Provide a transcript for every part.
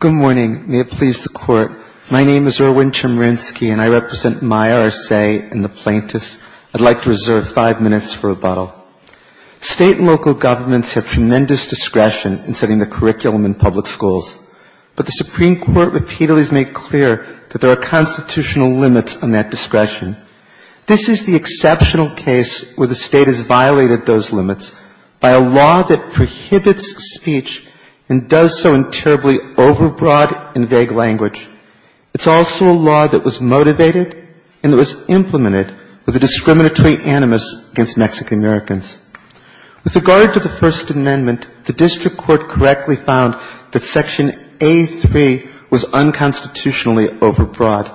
Good morning. May it please the Court. My name is Erwin Chemerinsky and I represent Maya Arce and the plaintiffs. I'd like to reserve five minutes for rebuttal. State and local governments have tremendous discretion in setting the curriculum in public schools. But the Supreme Court repeatedly has made clear that there are constitutional limits on that discretion. This is the exceptional case where the State has violated those limits by a law that prohibits speech and does so in terribly overbroad and vague language. It's also a law that was motivated and that was implemented with a discriminatory animus against Mexican-Americans. With regard to the First Amendment, the District Court correctly found that Section A-3 was unconstitutionally overbroad.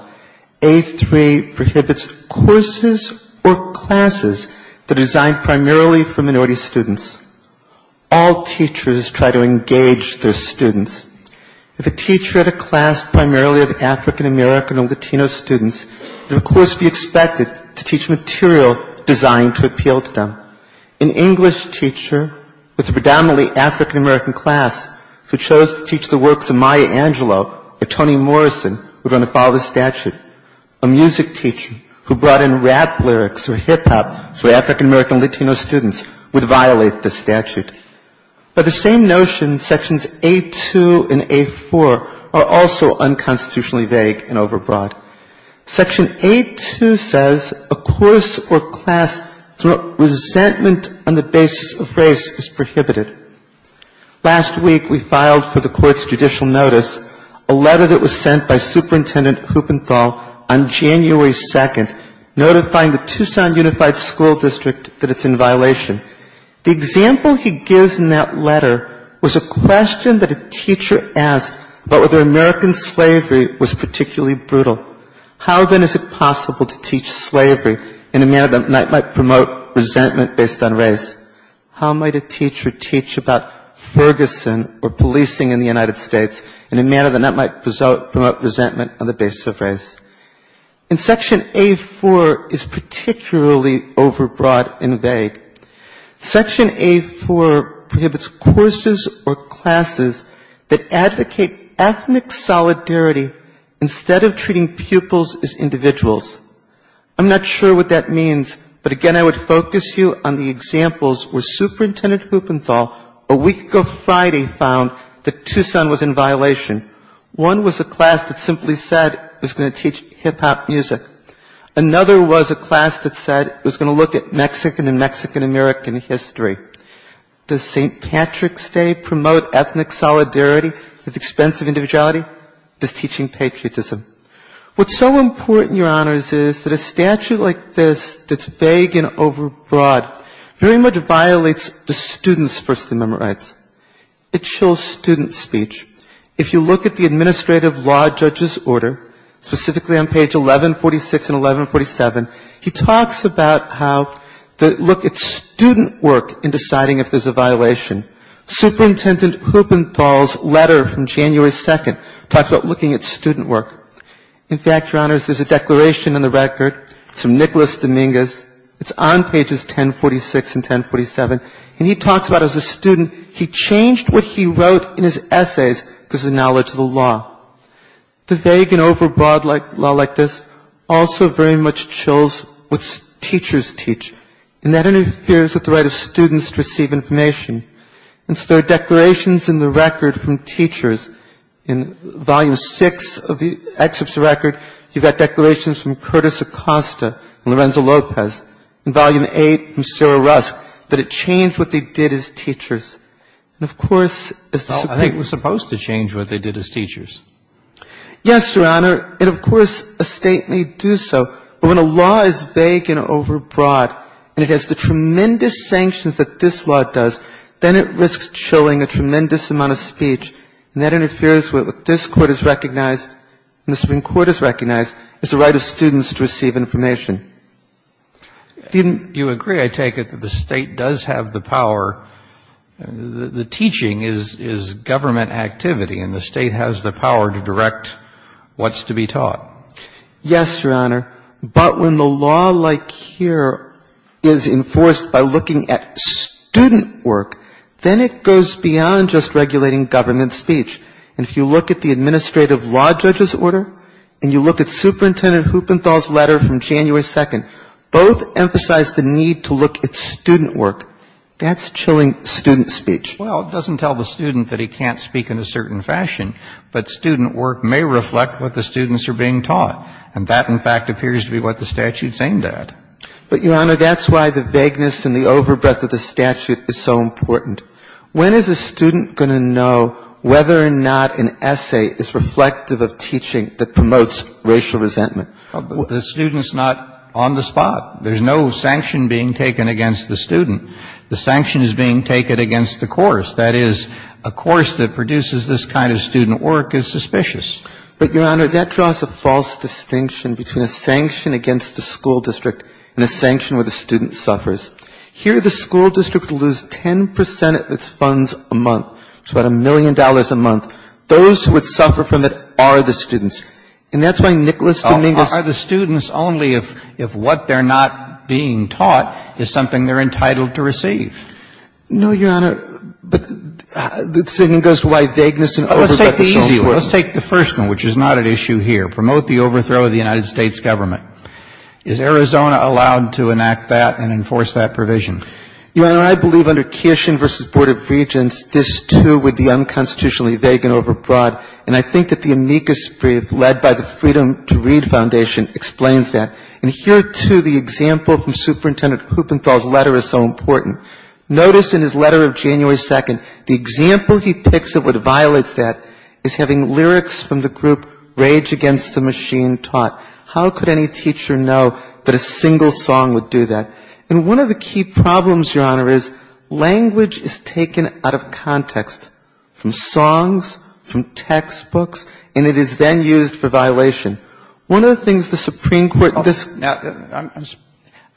A-3 prohibits courses or classes that are designed primarily for minority students. All teachers try to engage their students. If a teacher had a class primarily of African-American or Latino students, the course would be expected to teach material designed to appeal to them. An English teacher with a predominantly African-American class who chose to teach the works of Maya Angelou or Toni Morrison would want to follow the statute. A music teacher who brought in rap lyrics or hip-hop for African-American or Latino students would violate the statute. By the same notion, Sections A-2 and A-4 are also unconstitutionally vague and overbroad. Section A-2 says a course or class through resentment on the basis of race is prohibited. Last week we filed for the Court's judicial notice a letter that was sent by Superintendent Huppenthal on January 2nd, notifying the Tucson Unified School District that it's in violation. The example he gives in that letter was a question that a teacher asked about whether American slavery was particularly brutal. How, then, is it possible to teach slavery in a manner that might promote resentment based on race? How might a teacher teach about Ferguson or policing in the United States in a manner that might promote resentment on the basis of race? And Section A-4 is particularly overbroad and vague. Section A-4 prohibits courses or classes that advocate ethnic solidarity instead of treating pupils as individuals. I'm not sure what that means, but again, I would focus you on the examples where Superintendent Huppenthal a week ago Friday found that Tucson was in violation. One was a class that simply said it was going to teach hip-hop music. Another was a class that said it was going to look at Mexican and Mexican-American history. Does St. Patrick's Day promote ethnic solidarity with expense of individuality? Does teaching patriotism? What's so important, Your Honors, is that a statute like this that's vague and overbroad very much violates the students' First Amendment rights. It chills student speech. If you look at the administrative law judge's order, specifically on page 1146 and 1147, he talks about how the look at student work in deciding if there's a violation. Superintendent Huppenthal's letter from January 2nd talks about looking at student work. In fact, Your Honors, there's a declaration in the record. It's from Nicholas Dominguez. It's on pages 1046 and 1047, and he talks about as a student he changed what he wrote in his essays because of knowledge of the law. The vague and overbroad law like this also very much chills what teachers teach, and that interferes with the right of students to receive information. And so there are declarations in the record from teachers in volume 6 of the excerpts of the record. You've got declarations from Curtis Acosta and Lorenzo Lopez in volume 8 from Sarah Rusk that it changed what they did as teachers. And, of course, it's the same thing. Well, I think it was supposed to change what they did as teachers. Yes, Your Honor. And, of course, a State may do so, but when a law is vague and overbroad and it has the tremendous sanctions that this law does, then it risks chilling a tremendous amount of speech, and that interferes with what this Court has recognized and the Supreme Court has recognized as the right of students to receive information. Didn't you agree, I take it, that the State does have the power? The teaching is government activity, and the State has the power to direct what's to be taught. Yes, Your Honor. But when the law like here is enforced by looking at student work, then it goes beyond just regulating government speech. And if you look at the administrative law judge's order and you look at Superintendent Huppenthal's letter from January 2nd, both emphasize the need to look at student work. That's chilling student speech. Well, it doesn't tell the student that he can't speak in a certain fashion, but student work may reflect what the students are being taught. And that, in fact, appears to be what the statute's aimed at. But, Your Honor, that's why the vagueness and the overbreath of the statute is so important. When is a student going to know whether or not an essay is reflective of teaching that promotes racial resentment? The student's not on the spot. There's no sanction being taken against the student. The sanction is being taken against the course. That is, a course that produces this kind of student work is suspicious. But, Your Honor, that draws a false distinction between a sanction against the school district and a sanction where the student suffers. Here, the school district will lose 10 percent of its funds a month. It's about a million dollars a month. Those who would suffer from it are the students. And that's why Nicholas Dominguez Are the students only if what they're not being taught is something they're entitled to receive. No, Your Honor. But it goes to why vagueness and overbreath is so important. Let's take the easy one. Let's take the first one, which is not an issue here. Promote the overthrow of the United States government. Is Arizona allowed to enact that and enforce that provision? Your Honor, I believe under Kishin v. Board of Regents, this, too, would be unconstitutionally vague and overbroad. And I think that the amicus brief led by the Freedom to Read Foundation explains that. And here, too, the example from Superintendent Kupenthal's letter is so important. Notice in his letter of January 2nd, the example he picks that violates that is having lyrics from the group Rage Against the Machine taught. How could any teacher know that a single song would do that? And one of the key problems, Your Honor, is language is taken out of context, from songs, from textbooks, and it is then used for violation. One of the things the Supreme Court this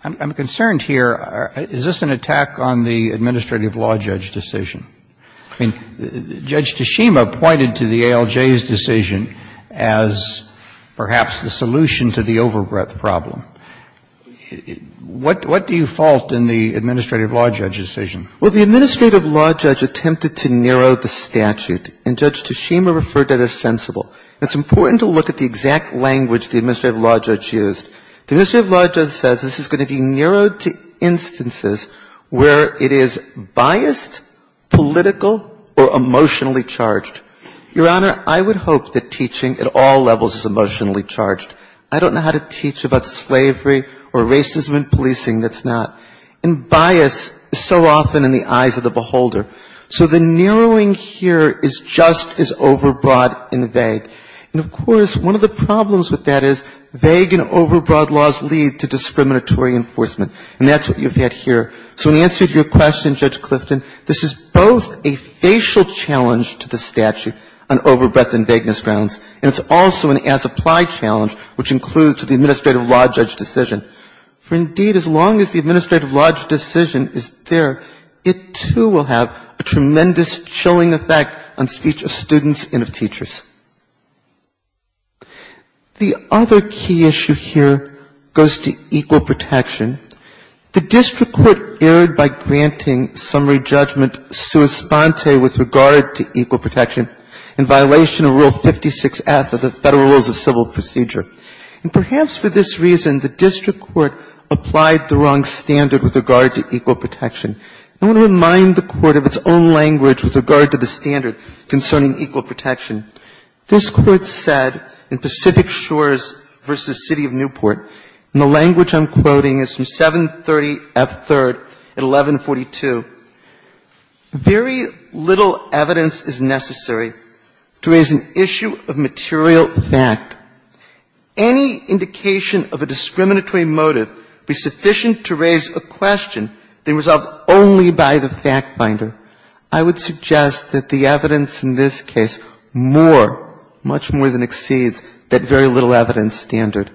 I'm concerned here. Is this an attack on the administrative law judge decision? I mean, Judge Tashima pointed to the ALJ's decision as perhaps the solution to the overbreadth problem. What do you fault in the administrative law judge decision? Well, the administrative law judge attempted to narrow the statute, and Judge Tashima referred to it as sensible. It's important to look at the exact language the administrative law judge used. The administrative law judge says this is going to be narrowed to instances where it is biased, political, or emotionally charged. Your Honor, I would hope that teaching at all levels is emotionally charged. I don't know how to teach about slavery or racism in policing that's not. And bias is so often in the eyes of the beholder. So the narrowing here is just as overbroad and vague. And of course, one of the problems with that is vague and overbroad laws lead to discriminatory enforcement. And that's what you've had here. So in answer to your question, Judge Clifton, this is both a facial challenge to the statute on overbreadth and vagueness grounds, and it's also an as-applied challenge which includes the administrative law judge decision. For indeed, as long as the administrative law judge decision is there, it too will have a tremendous chilling effect on speech of students and of teachers. The other key issue here goes to equal protection. The district court erred by granting summary judgment sua sponte with regard to equal protection in violation of Rule 56F of the Federal Rules of Civil Procedure. And perhaps for this reason, the district court applied the wrong standard with regard to equal protection. I want to remind the Court of its own language with regard to the standard concerning equal protection. This Court said in Pacific Shores v. City of Newport, and the language I'm quoting is from 730F3rd at 1142, Very little evidence is necessary to raise an issue of material fact. Any indication of a discriminatory motive be sufficient to raise a question being resolved only by the fact finder. I would suggest that the evidence in this case more, much more than exceeds that very little evidence standard.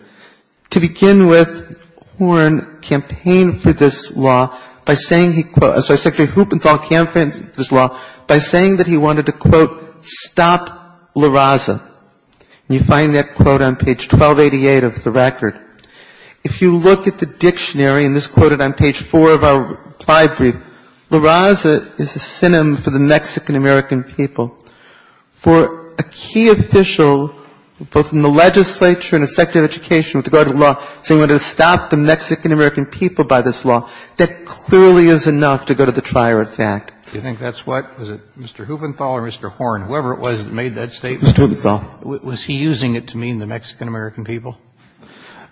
To begin with, Horne campaigned for this law by saying he quote – sorry, Secretary Huppenthal campaigned for this law by saying that he wanted to, quote, stop La Raza. And you find that quote on page 1288 of the record. If you look at the dictionary, and this is quoted on page 4 of our reply brief, La Raza is a synonym for the Mexican-American people. For a key official, both in the legislature and the Secretary of Education, with regard to the law, saying he wanted to stop the Mexican-American people by this law, that clearly is enough to go to the trier of fact. Do you think that's what? Was it Mr. Huppenthal or Mr. Horne? Whoever it was that made that statement, was he using it to mean the Mexican-American people?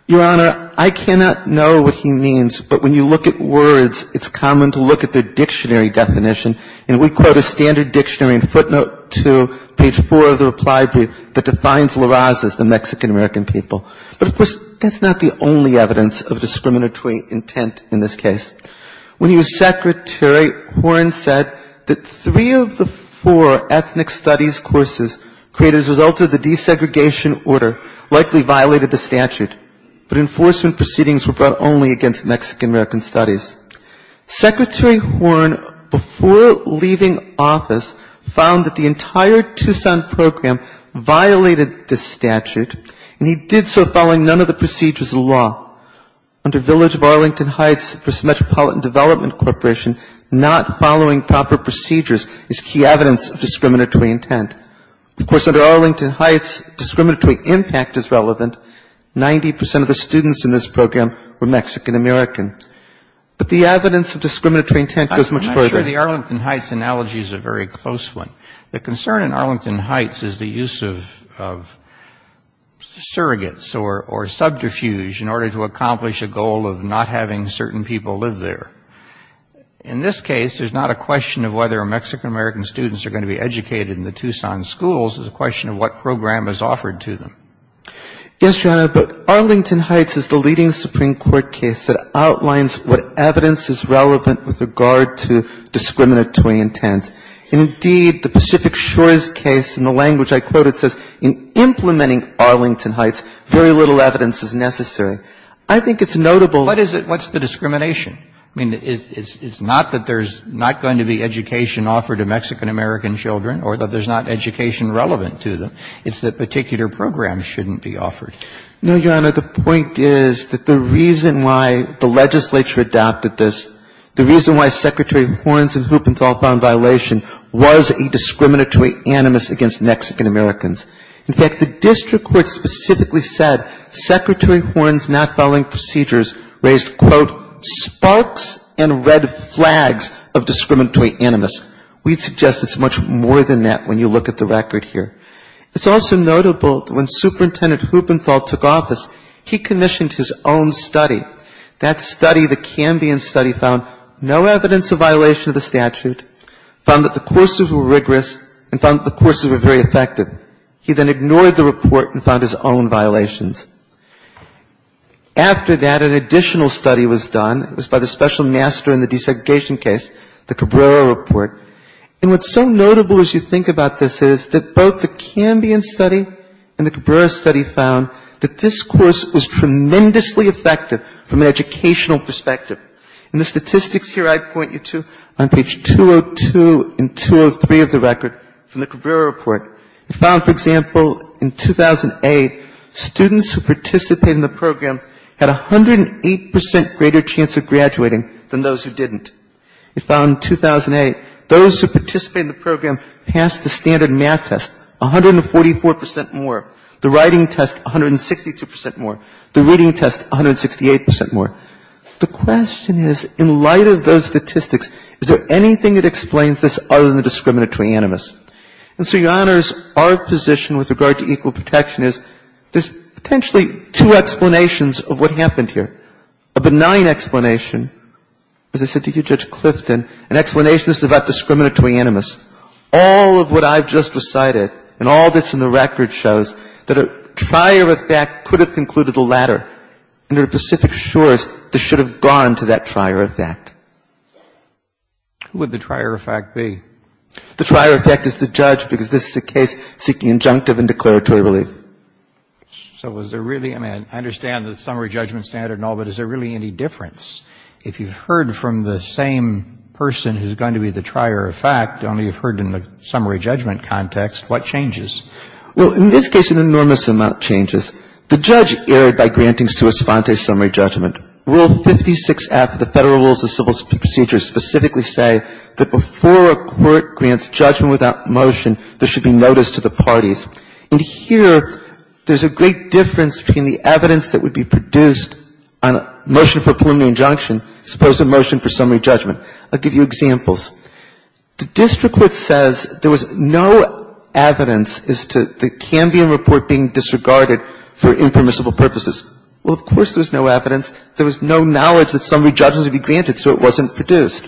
Your Honor, I cannot know what he means, but when you look at words, it's common to look at the dictionary definition, and we quote a standard dictionary in footnote 2, page 4 of the reply brief, that defines La Raza as the Mexican-American people. But, of course, that's not the only evidence of discriminatory intent in this case. When you, Secretary, Horne said that three of the four ethnic studies courses created as a result of the desegregation order likely violated the statute, but enforcement proceedings were brought only against Mexican-American studies. Secretary Horne, before leaving office, found that the entire Tucson program violated the statute, and he did so following none of the procedures of the law. Under Village of Arlington Heights v. Metropolitan Development Corporation, not following proper procedures is key evidence of discriminatory intent. Of course, under Arlington Heights, discriminatory impact is relevant. 90 percent of the students in this program were Mexican-American. But the evidence of discriminatory intent goes much further. I'm sure the Arlington Heights analogy is a very close one. The concern in Arlington Heights is the use of surrogates or subterfuge in order to accomplish a goal of not having certain people live there. In this case, there's not a question of whether Mexican-American students are going to be educated in the Tucson schools. It's a question of what program is offered to them. Yes, Your Honor, but Arlington Heights is the leading Supreme Court case that outlines what evidence is relevant with regard to discriminatory intent. Indeed, the Pacific Shores case, in the language I quoted, says in implementing Arlington Heights, very little evidence is necessary. I think it's notable. What is it? What's the discrimination? I mean, it's not that there's not going to be education offered to Mexican-American children or that there's not education relevant to them. It's that particular programs shouldn't be offered. No, Your Honor. The point is that the reason why the legislature adopted this, the reason why Secretary Horns and Huppenthal found violation was a discriminatory animus against Mexican-Americans. In fact, the district court specifically said Secretary Horns' not following procedures raised, quote, sparks and red flags of discriminatory animus. We'd suggest it's much more than that when you look at the record here. It's also notable that when Superintendent Huppenthal took office, he commissioned his own study. That study, the Cambian study, found no evidence of violation of the He then ignored the report and found his own violations. After that, an additional study was done. It was by the special master in the desegregation case, the Cabrera report. And what's so notable as you think about this is that both the Cambian study and the Cabrera study found that this course was tremendously effective from an educational perspective. And the statistics here I'd point you to on page 202 and 203 of the record from the Cabrera report. It found, for example, in 2008, students who participated in the program had a 108 percent greater chance of graduating than those who didn't. It found in 2008, those who participated in the program passed the standard math test 144 percent more, the writing test 162 percent more, the reading test 168 percent more. The question is, in light of those statistics, is there anything that explains this other than the discriminatory animus? And so, Your Honors, our position with regard to equal protection is there's potentially two explanations of what happened here. A benign explanation, as I said to you, Judge Clifton, an explanation about discriminatory animus. All of what I've just recited and all that's in the record shows that a trier effect could have concluded the latter, and there are specific shores that should have gone to that trier effect. Who would the trier effect be? The trier effect is the judge, because this is a case seeking injunctive and declaratory relief. So was there really, I mean, I understand the summary judgment standard and all, but is there really any difference? If you've heard from the same person who's going to be the trier effect, only you've heard in the summary judgment context, what changes? Well, in this case, an enormous amount changes. The judge erred by granting sua sponte summary judgment. Rule 56F of the Federal Rules of Civil Procedure specifically say that before a court grants judgment without motion, there should be notice to the parties. And here, there's a great difference between the evidence that would be produced on a motion for preliminary injunction as opposed to a motion for summary judgment. I'll give you examples. The district court says there was no evidence as to the Cambium report being disregarded for impermissible purposes. Well, of course there was no evidence. There was no knowledge that summary judgment would be granted, so it wasn't produced.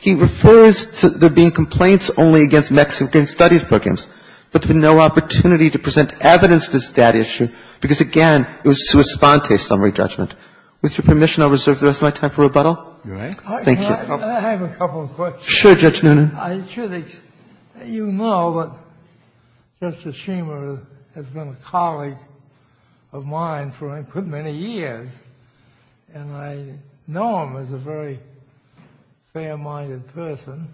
He refers to there being complaints only against Mexican studies programs, but there was no opportunity to present evidence to that issue because, again, it was sua sponte summary judgment. With your permission, I'll reserve the rest of my time for rebuttal. Thank you. I have a couple of questions. Sure, Judge Noonan. You know that Justice Schumer has been a colleague of mine for many years, and I know him as a very fair-minded person.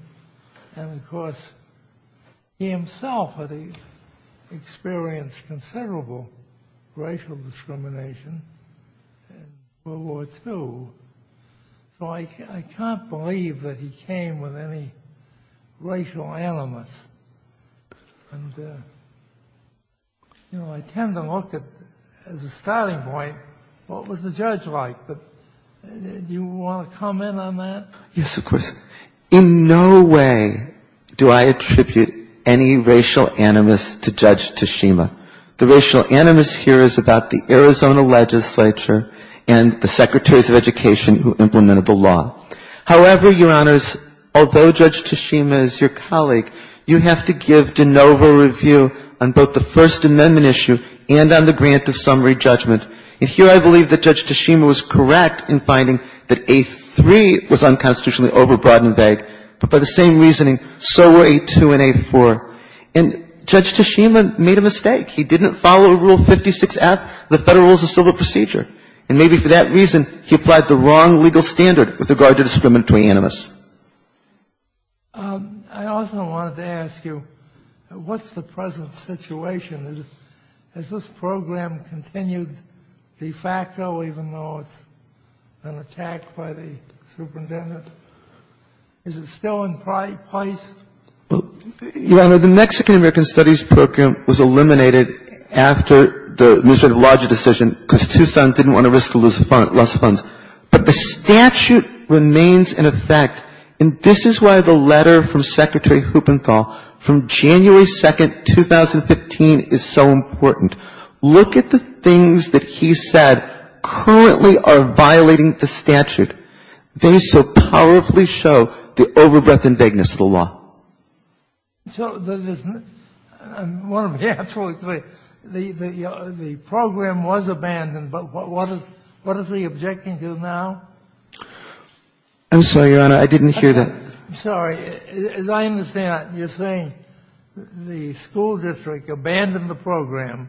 And, of course, he himself had experienced considerable racial discrimination before World War II, so I can't believe that he came with any racial animus. And, you know, I tend to look at, as a starting point, what was the judge like, but do you want to comment on that? Yes, of course. In no way do I attribute any racial animus to Judge Tashima. The racial animus here is about the Arizona legislature and the secretaries of education who implemented the law. However, Your Honors, although Judge Tashima is your colleague, you have to give de novo review on both the First Amendment issue and on the grant of summary judgment. And here I believe that Judge Tashima was correct in finding that A3 was unconstitutionally overbroad and vague, but by the same reasoning, so were A2 and A4. And Judge Tashima made a mistake. He didn't follow Rule 56F of the Federal Rules of Civil Procedure, and maybe for that reason he applied the wrong legal standard with regard to discriminatory animus. I also wanted to ask you, what's the present situation? Has this program continued de facto, even though it's been attacked by the superintendent? Is it still in place? Your Honor, the Mexican-American Studies Program was eliminated after the administrative logic decision because Tucson didn't want to risk to lose funds. But the statute remains in effect, and this is why the letter from Secretary Huppenthal from January 2nd, 2015, is so important. Look at the things that he said currently are violating the statute. They so powerfully show the overbreadth and vagueness of the law. I want to be absolutely clear. The program was abandoned, but what is he objecting to now? I'm sorry, Your Honor. I didn't hear that. I'm sorry. As I understand it, you're saying the school district abandoned the program,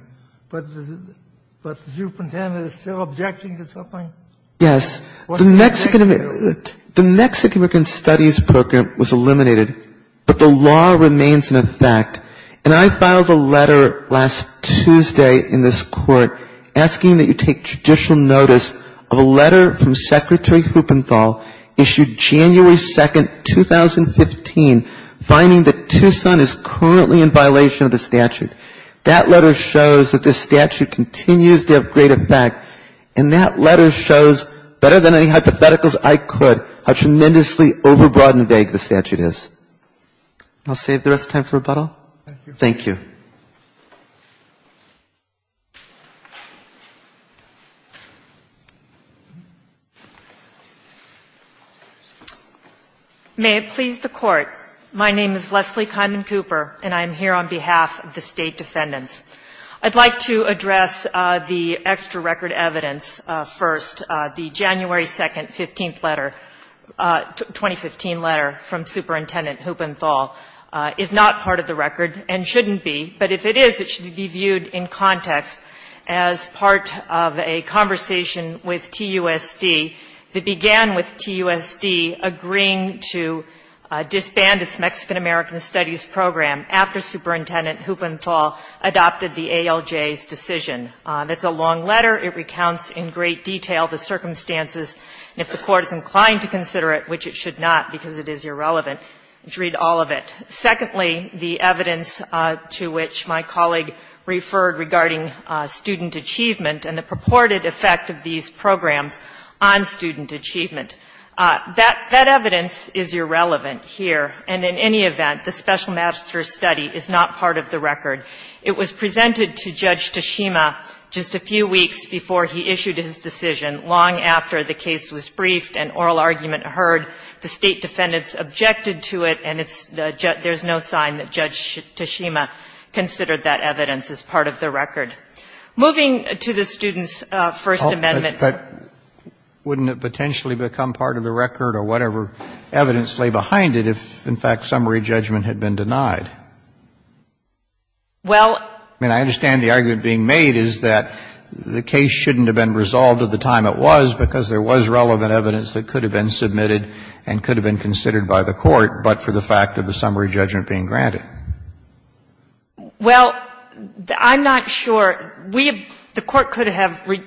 but the superintendent is still objecting to something? Yes. The Mexican-American Studies Program was eliminated, but the law remains in effect. And I filed a letter last Tuesday in this Court asking that you take judicial notice of a letter from Secretary Huppenthal issued January 2nd, 2015, finding that Tucson is currently in violation of the statute. That letter shows that this statute continues to have great effect, and that letter shows, better than any hypotheticals I could, how tremendously overbroad and vague the statute is. I'll save the rest of the time for rebuttal. Thank you. Thank you. May it please the Court. My name is Leslie Kiman Cooper, and I'm here on behalf of the State Defendants. I'd like to address the extra record evidence first. The January 2nd, 15th letter, 2015 letter from Superintendent Huppenthal, is not part of the record and shouldn't be, but if it is, I would like to address it. If it is, it should be viewed in context as part of a conversation with TUSD that began with TUSD agreeing to disband its Mexican-American Studies Program after Superintendent Huppenthal adopted the ALJ's decision. That's a long letter. It recounts in great detail the circumstances, and if the Court is inclined to consider it, which it should not because it is irrelevant, read all of it. Secondly, the evidence to which my colleague referred regarding student achievement and the purported effect of these programs on student achievement. That evidence is irrelevant here, and in any event, the special master's study is not part of the record. It was presented to Judge Tashima just a few weeks before he issued his decision, long after the case was briefed and oral argument heard. The State defendants objected to it, and there is no sign that Judge Tashima considered that evidence as part of the record. Moving to the student's First Amendment. Kennedy. But wouldn't it potentially become part of the record or whatever evidence lay behind it if, in fact, summary judgment had been denied? Well. I mean, I understand the argument being made is that the case shouldn't have been submitted and could have been considered by the Court, but for the fact of the summary judgment being granted. Well, I'm not sure. We have the Court could have the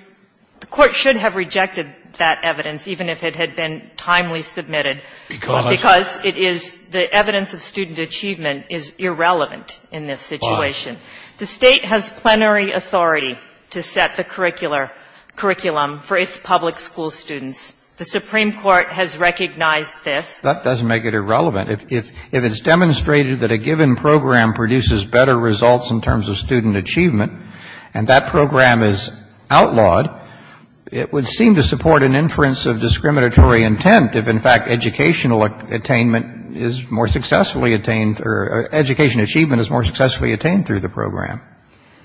Court should have rejected that evidence even if it had been timely submitted. Because it is the evidence of student achievement is irrelevant in this situation. The State has plenary authority to set the curricular curriculum for its public school students. The Supreme Court has recognized this. That doesn't make it irrelevant. If it's demonstrated that a given program produces better results in terms of student achievement, and that program is outlawed, it would seem to support an inference of discriminatory intent if, in fact, educational attainment is more successfully attained or education achievement is more successfully attained through the program.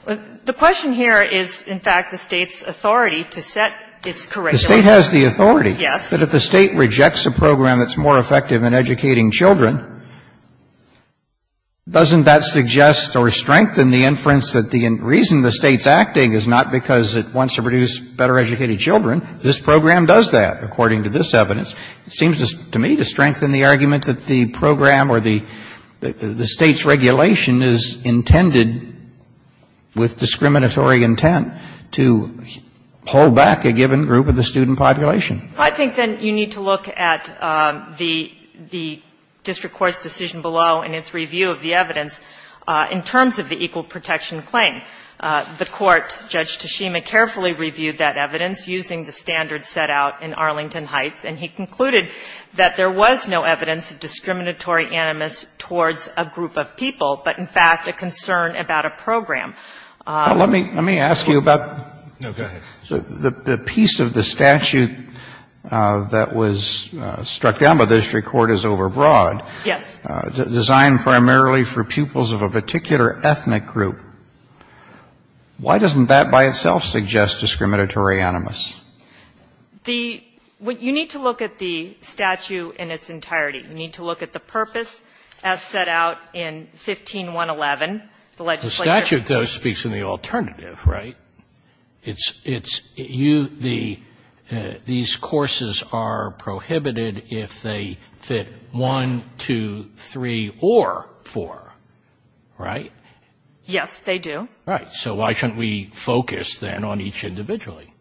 The question here is, in fact, the State's authority to set its curriculum. The State has the authority. Yes. But if the State rejects a program that's more effective in educating children, doesn't that suggest or strengthen the inference that the reason the State's acting is not because it wants to produce better educated children? This program does that, according to this evidence. It seems to me to strengthen the argument that the program or the State's regulation is intended with discriminatory intent to hold back a given group of the student population. Well, I think, then, you need to look at the district court's decision below in its review of the evidence in terms of the equal protection claim. The court, Judge Tashima, carefully reviewed that evidence using the standards set out in Arlington Heights, and he concluded that there was no evidence of discriminatory animus towards a group of people, but, in fact, a concern about a program. Let me ask you about the piece of the statute that was struck down by the district court as overbroad. Yes. Designed primarily for pupils of a particular ethnic group. Why doesn't that by itself suggest discriminatory animus? You need to look at the statute in its entirety. You need to look at the purpose as set out in 15111, the legislature. The statute, though, speaks in the alternative, right? It's you, the, these courses are prohibited if they fit 1, 2, 3, or 4, right? Yes, they do. Right. So why shouldn't we focus, then, on each individually?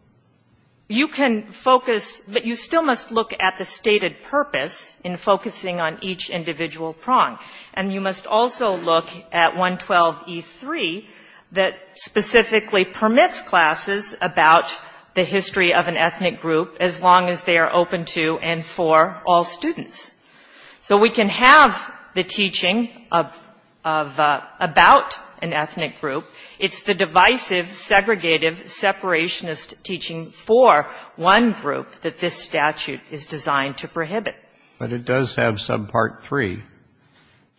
You can focus, but you still must look at the stated purpose in focusing on each individual prong, and you must also look at 112E3 that specifically permits classes about the history of an ethnic group as long as they are open to and for all students. So we can have the teaching of, about an ethnic group. It's the divisive, segregative, separationist teaching for one group that this statute is designed to prohibit. But it does have subpart 3.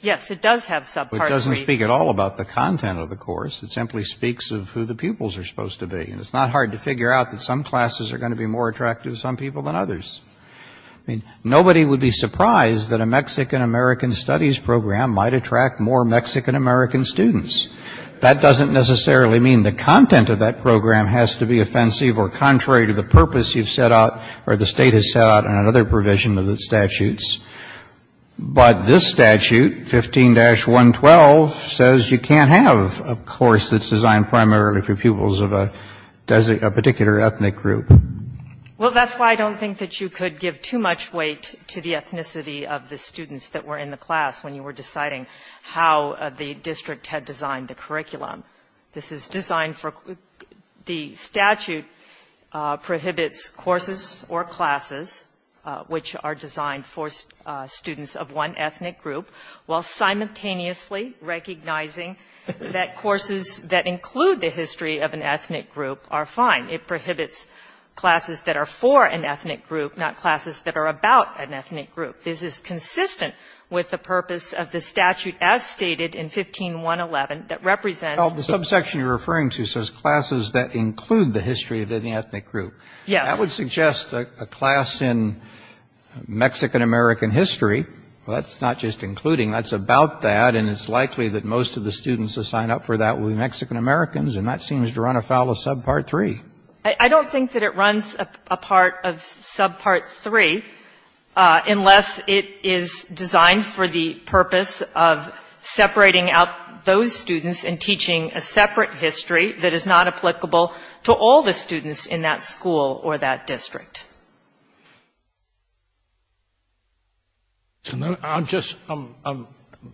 Yes, it does have subpart 3. But it doesn't speak at all about the content of the course. It simply speaks of who the pupils are supposed to be. And it's not hard to figure out that some classes are going to be more attractive to some people than others. I mean, nobody would be surprised that a Mexican-American studies program might attract more Mexican-American students. That doesn't necessarily mean the content of that program has to be offensive or contrary to the purpose you've set out or the State has set out in another provision of the statutes. But this statute, 15-112, says you can't have a course that's designed primarily for pupils of a particular ethnic group. Well, that's why I don't think that you could give too much weight to the ethnicity of the students that were in the class when you were deciding how the district had designed the curriculum. This is designed for the statute prohibits courses or classes which are designed for students of one ethnic group, while simultaneously recognizing that courses that include the history of an ethnic group are fine. It prohibits classes that are for an ethnic group, not classes that are about an ethnic group. This is consistent with the purpose of the statute as stated in 15-111 that represents the ethnic group. Roberts. Well, the subsection you're referring to says classes that include the history of any ethnic group. Yes. That would suggest a class in Mexican-American history. Well, that's not just including. That's about that, and it's likely that most of the students assigned up for that would be Mexican-Americans, and that seems to run afoul of subpart 3. I don't think that it runs apart of subpart 3, unless it is designed for the purpose of separating out those students and teaching a separate history that is not applicable to all the students in that school or that district. I'm just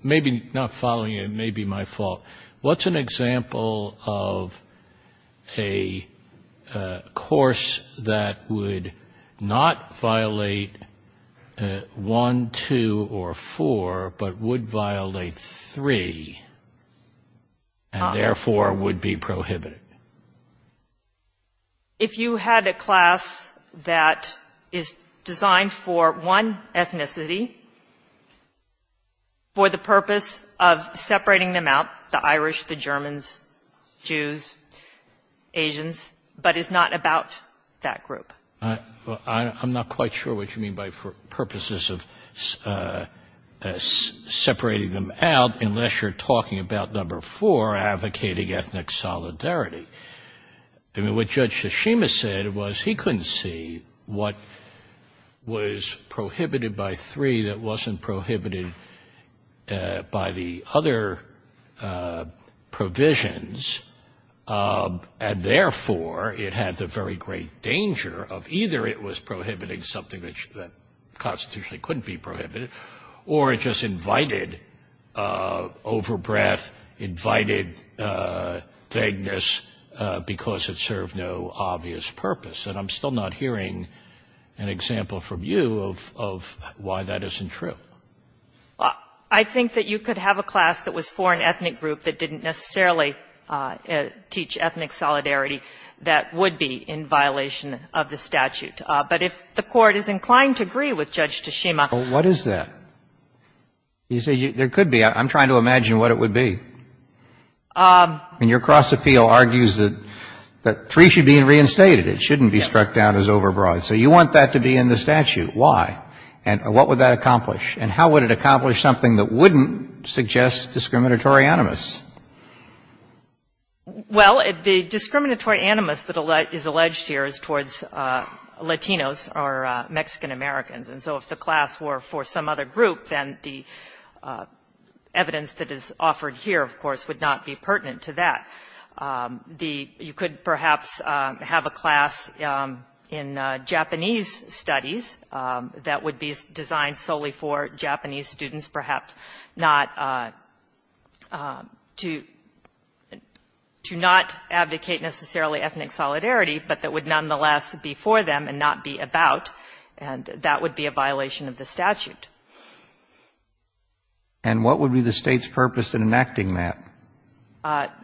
maybe not following you. It may be my fault. What's an example of a course that would not violate 1, 2, or 4, but would violate 3, and therefore would be prohibited? If you had a class that is designed for one ethnicity, for the purpose of separating them out, the Irish, the Germans, Jews, Asians, but is not about that group. Well, I'm not quite sure what you mean by purposes of separating them out, unless you're talking about number 4, advocating ethnic solidarity. I mean, what Judge Tsushima said was he couldn't see what was prohibited by 3 that wasn't prohibited by the other provisions, and therefore it had the very great danger of either it was prohibiting something that constitutionally couldn't be prohibited, or it just invited overbreath, invited vagueness, because it served no obvious purpose. And I'm still not hearing an example from you of why that isn't true. Well, I think that you could have a class that was for an ethnic group that didn't necessarily teach ethnic solidarity that would be in violation of the statute. But if the Court is inclined to agree with Judge Tsushima. Well, what is that? You say there could be. I'm trying to imagine what it would be. I mean, your cross appeal argues that 3 should be reinstated. It shouldn't be struck down as overbreath. And what would that accomplish? And how would it accomplish something that wouldn't suggest discriminatory animus? Well, the discriminatory animus that is alleged here is towards Latinos or Mexican-Americans. And so if the class were for some other group, then the evidence that is offered here, of course, would not be pertinent to that. The you could perhaps have a class in Japanese studies that would be designed solely for Japanese students, perhaps not to not advocate necessarily ethnic solidarity, but that would nonetheless be for them and not be about, and that would be a violation of the statute. And what would be the State's purpose in enacting that?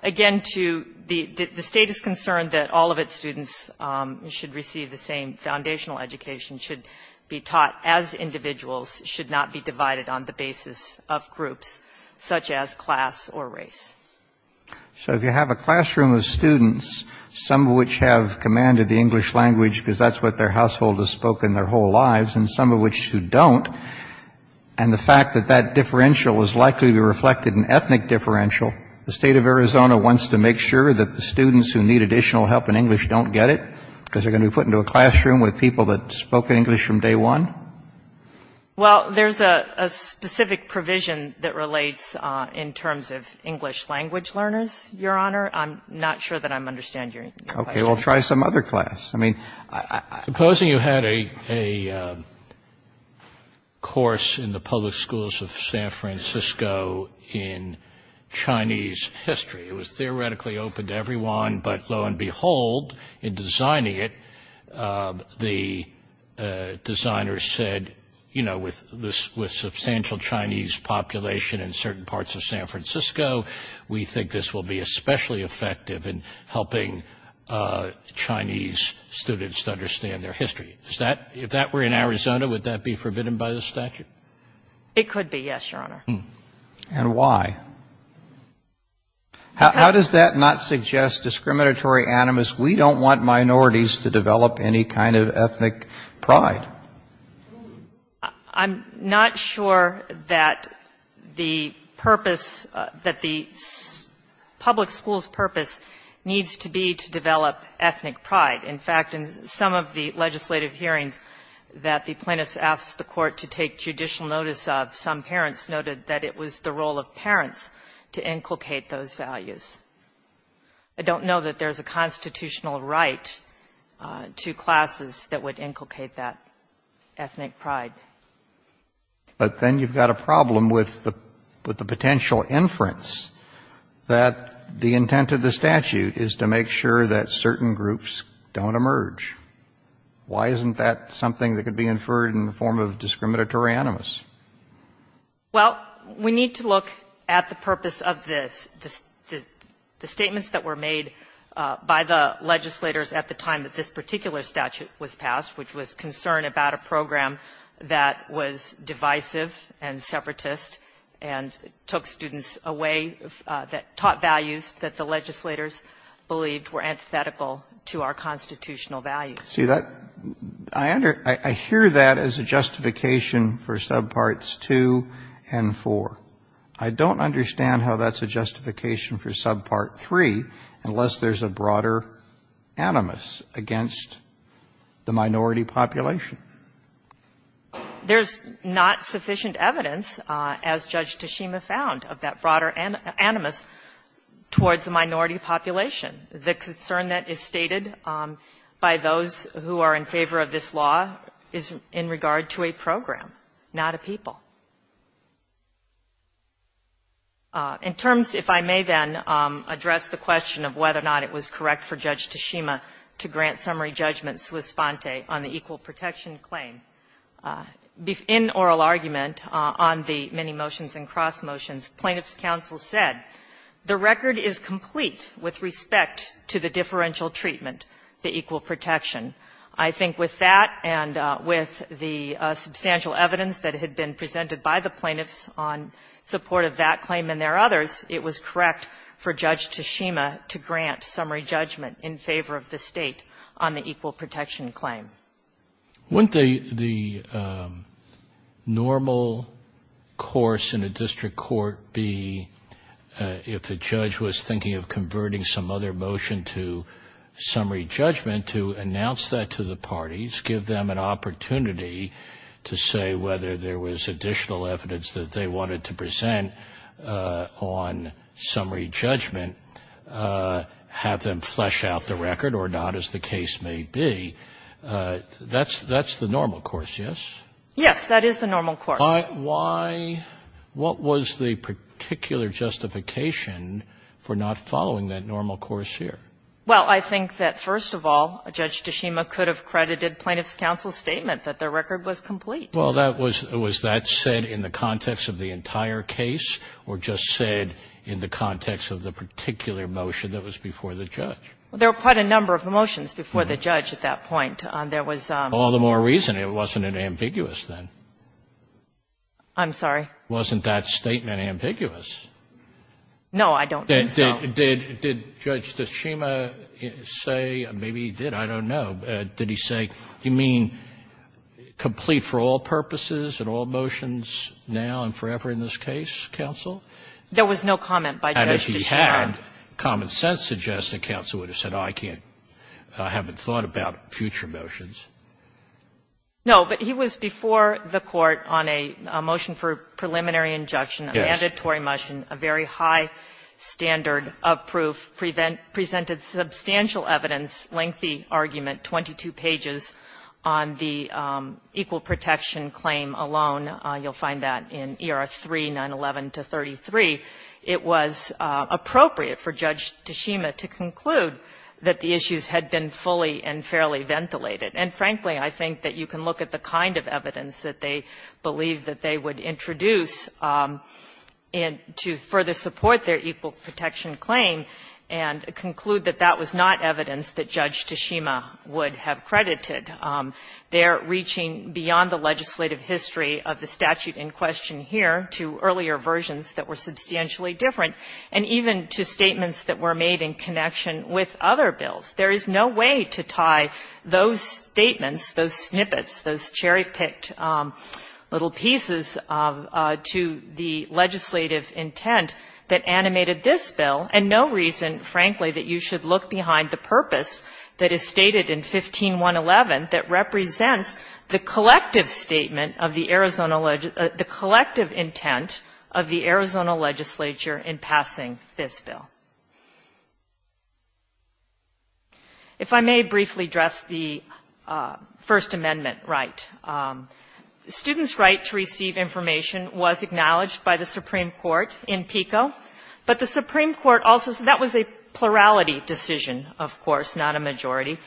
Again, to the State is concerned that all of its students should receive the same foundational education, should be taught as individuals, should not be divided on the basis of groups such as class or race. So if you have a classroom of students, some of which have commanded the English language because that's what their household has spoken their whole lives, and some of which who don't, and the fact that that differential is likely to be reflected in an ethnic differential, the State of Arizona wants to make sure that the students who need additional help in English don't get it, because they're going to be put into a classroom with people that spoke English from day one? Well, there's a specific provision that relates in terms of English language learners, Your Honor. I'm not sure that I understand your question. Okay. Well, try some other class. I mean, I- Supposing you had a course in the public schools of San Francisco in Chinese history. It was theoretically open to everyone, but lo and behold, in designing it, the designers said, you know, with substantial Chinese population in certain parts of San Francisco, we think this will be especially effective in helping Chinese students to understand their history. If that were in Arizona, would that be forbidden by the statute? It could be, yes, Your Honor. And why? How does that not suggest discriminatory animus? We don't want minorities to develop any kind of ethnic pride. I'm not sure that the purpose, that the public school's purpose needs to be to develop ethnic pride. In fact, in some of the legislative hearings that the plaintiffs asked the court to take judicial notice of, some parents noted that it was the role of parents to inculcate those values. I don't know that there's a constitutional right to classes that would inculcate that ethnic pride. But then you've got a problem with the potential inference that the intent of the statute is to make sure that certain groups don't emerge. Why isn't that something that could be inferred in the form of discriminatory animus? Well, we need to look at the purpose of this. The statements that were made by the legislators at the time that this particular statute was passed, which was concern about a program that was divisive and separatist and took students away, that taught values that the legislators believed were antithetical to our constitutional values. See, that, I hear that as a justification for subparts 2 and 4. I don't understand how that's a justification for subpart 3 unless there's a broader animus against the minority population. There's not sufficient evidence, as Judge Tashima found, of that broader animus towards the minority population. The concern that is stated by those who are in favor of this law is in regard to a program, not a people. In terms, if I may, then, address the question of whether or not it was correct for Judge Tashima to grant summary judgments with Sponte on the equal protection claim. In oral argument on the many motions and cross motions, plaintiffs' counsel said, the record is complete with respect to the differential treatment, the equal protection. I think with that and with the substantial evidence that had been presented by the plaintiffs on support of that claim and their others, it was correct for Judge Tashima to grant summary judgment in favor of the State on the equal protection claim. Wouldn't the normal course in a district court be, if a judge was thinking of converting some other motion to summary judgment, to announce that to the parties, give them an opportunity to say whether there was additional evidence that they wanted to present on summary judgment, have them flesh out the record, or not, as the case may be, that's the normal course, yes? Yes. That is the normal course. Why? What was the particular justification for not following that normal course here? Well, I think that, first of all, Judge Tashima could have credited plaintiffs' counsel's statement that their record was complete. Well, was that said in the context of the entire case or just said in the context of the particular motion that was before the judge? There were quite a number of motions before the judge at that point. There was a ---- All the more reason it wasn't ambiguous then. I'm sorry? Wasn't that statement ambiguous? No, I don't think so. Did Judge Tashima say, maybe he did, I don't know, did he say, you mean complete for all purposes and all motions now and forever in this case, counsel? There was no comment by Judge Tashima. And if he had, common sense suggests that counsel would have said, oh, I can't ---- I haven't thought about future motions. No, but he was before the Court on a motion for preliminary injunction, a mandatory motion, a very high standard of proof, presented substantial evidence, lengthy argument, 22 pages on the equal protection claim alone. You'll find that in ER 3, 911 to 33. It was appropriate for Judge Tashima to conclude that the issues had been fully and fairly ventilated. And frankly, I think that you can look at the kind of evidence that they believed that they would introduce to further support their equal protection claim and conclude that that was not evidence that Judge Tashima would have credited. They are reaching beyond the legislative history of the statute in question here to earlier versions that were substantially different and even to statements that were made in connection with other bills. There is no way to tie those statements, those snippets, those cherry-picked little pieces to the legislative intent that animated this bill, and no reason, frankly, that you should look behind the purpose that is stated in 15111 that represents the collective statement of the Arizona, the collective intent of the Arizona legislature in passing this bill. If I may briefly address the First Amendment right. Students' right to receive information was acknowledged by the Supreme Court in PICO, but the Supreme Court also said that was a plurality decision, of course, not a majority.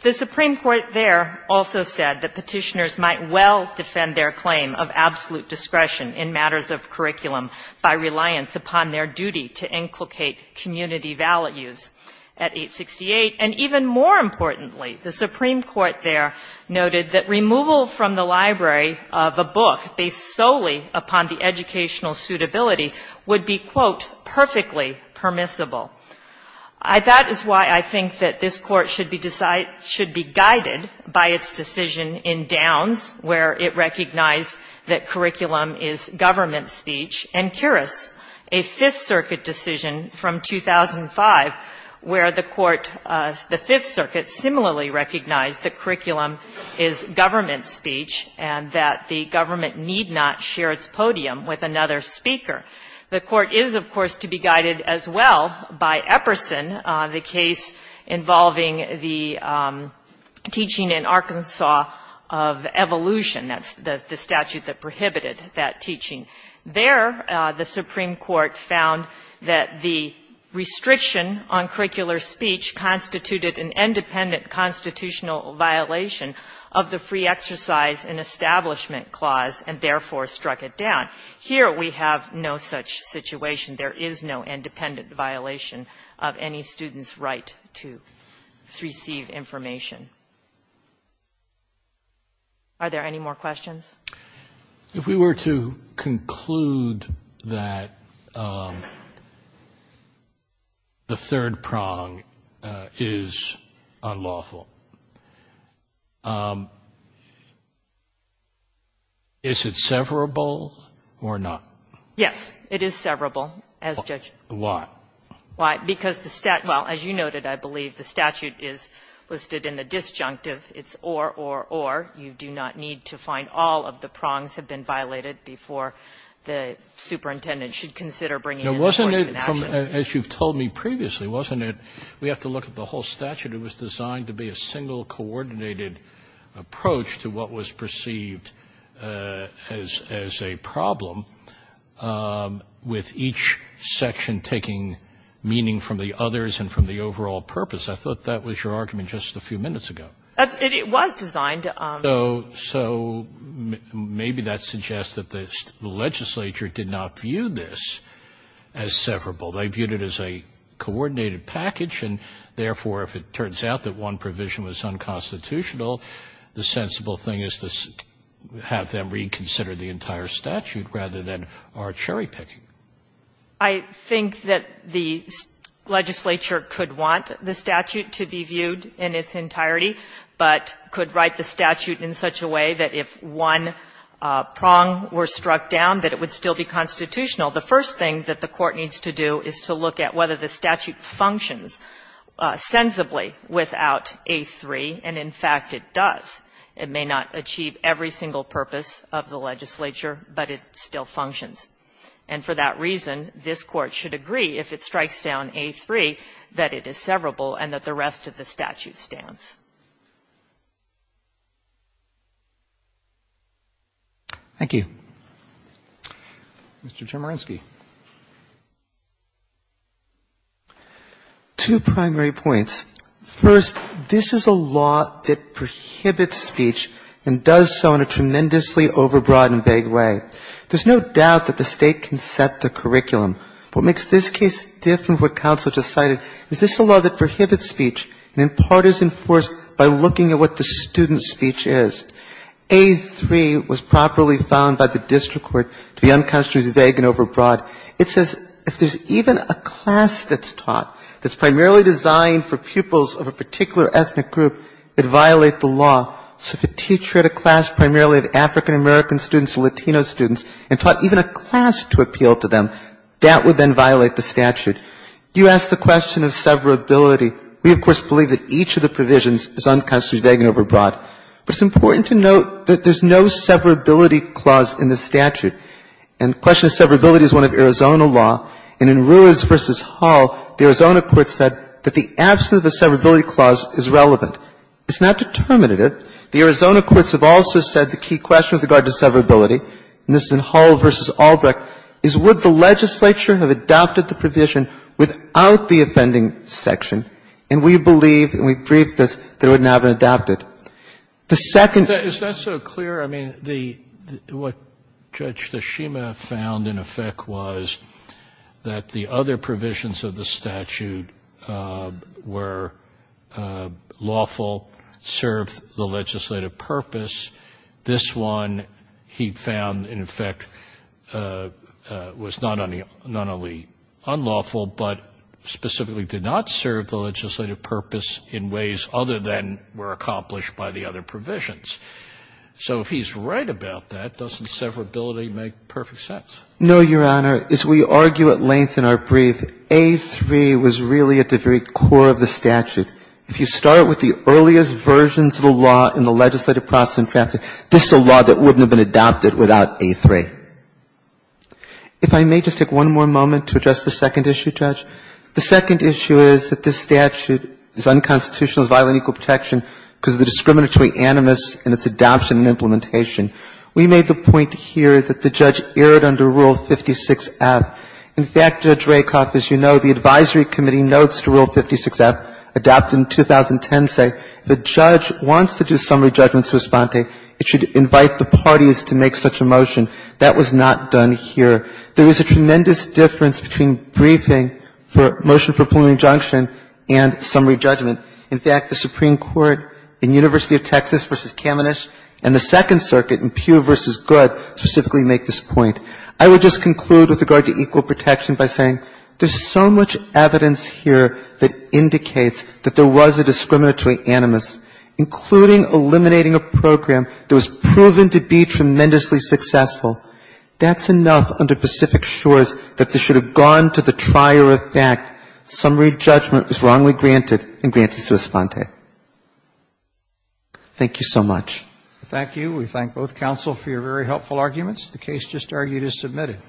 The Supreme Court there also said that Petitioners might well defend their claim of absolute discretion in matters of curriculum by reliance upon their duty to inculcate community values at 868. And even more importantly, the Supreme Court there noted that removal from the library of a book based solely upon the educational suitability would be, quote, perfectly permissible. That is why I think that this Court should be guided by its decision in Downs, where it recognized that curriculum is government speech, and Kirris, a Fifth Circuit decision from 2005, where the Court, the Fifth Circuit, similarly recognized that curriculum is government speech and that the government need not share its podium with another speaker. The Court is, of course, to be guided as well by Epperson, the case involving the teaching in Arkansas of evolution. That's the statute that prohibited that teaching. There, the Supreme Court found that the restriction on curricular speech constituted an independent constitutional violation of the Free Exercise and Establishment Clause, and therefore struck it down. Here, we have no such situation. There is no independent violation of any student's right to receive information. Are there any more questions? If we were to conclude that the third prong is unlawful, is it severable or not? Yes, it is severable as judged. Why? Why? Because the statute, well, as you noted, I believe the statute is listed in the disjunctive. It's or, or, or. You do not need to find all of the prongs have been violated before the superintendent should consider bringing in an enforcement action. Now, wasn't it, as you've told me previously, wasn't it, we have to look at the whole statute, it was designed to be a single coordinated approach to what was perceived as a problem with each section taking meaning from the others and from the overall purpose. I thought that was your argument just a few minutes ago. It was designed. So maybe that suggests that the legislature did not view this as severable. They viewed it as a coordinated package and, therefore, if it turns out that one provision was unconstitutional, the sensible thing is to have them reconsider the entire statute rather than our cherry picking. I think that the legislature could want the statute to be viewed in its entirety. But could write the statute in such a way that if one prong were struck down, that it would still be constitutional. The first thing that the court needs to do is to look at whether the statute functions sensibly without A3, and, in fact, it does. It may not achieve every single purpose of the legislature, but it still functions. And for that reason, this Court should agree, if it strikes down A3, that it is severable and that the rest of the statute stands. Thank you. Mr. Chemerinsky. Two primary points. First, this is a law that prohibits speech and does so in a tremendously overbroad and vague way. There's no doubt that the State can set the curriculum. What makes this case different from what counsel just cited is this is a law that is enforced by looking at what the student's speech is. A3 was properly found by the district court to be uncountably vague and overbroad. It says if there's even a class that's taught that's primarily designed for pupils of a particular ethnic group, it would violate the law. So if a teacher had a class primarily of African-American students and Latino students and taught even a class to appeal to them, that would then violate the statute. You asked the question of severability. We, of course, believe that each of the provisions is uncountably vague and overbroad. But it's important to note that there's no severability clause in the statute. And the question of severability is one of Arizona law. And in Ruiz v. Hall, the Arizona courts said that the absence of the severability clause is relevant. It's not determinative. The Arizona courts have also said the key question with regard to severability, and this is in Hall v. Albrecht, is would the legislature have adopted the provision without the offending section? And we believe, and we've briefed this, that it wouldn't have been adopted. The second ---- Scalia. Is that so clear? I mean, what Judge Tashima found in effect was that the other provisions of the statute were lawful, served the legislative purpose. This one he found, in effect, was not only unlawful, but specifically did not serve the legislative purpose in ways other than were accomplished by the other provisions. So if he's right about that, doesn't severability make perfect sense? No, Your Honor. As we argue at length in our brief, A3 was really at the very core of the statute. If you start with the earliest versions of the law in the legislative process in practice, this is a law that wouldn't have been adopted without A3. If I may just take one more moment to address the second issue, Judge. The second issue is that this statute is unconstitutional as violating equal protection because of the discriminatory animus in its adoption and implementation. We made the point here that the judge erred under Rule 56F. In fact, Judge Rakoff, as you know, the advisory committee notes to Rule 56F, adopted in 2010, say if a judge wants to do summary judgment sospente, it should invite the parties to make such a motion. That was not done here. There is a tremendous difference between briefing for motion for plenary injunction and summary judgment. In fact, the Supreme Court in University of Texas v. Kamenisch and the Second Circuit in Pew v. Goode specifically make this point. I would just conclude with regard to equal protection by saying there is so much evidence here that indicates that there was a discriminatory animus, including eliminating a program that was proven to be tremendously successful. That's enough under Pacific Shores that this should have gone to the trier effect. Summary judgment was wrongly granted and granted sospente. Thank you so much. Thank you. We thank both counsel for your very helpful arguments. The case just argued is submitted.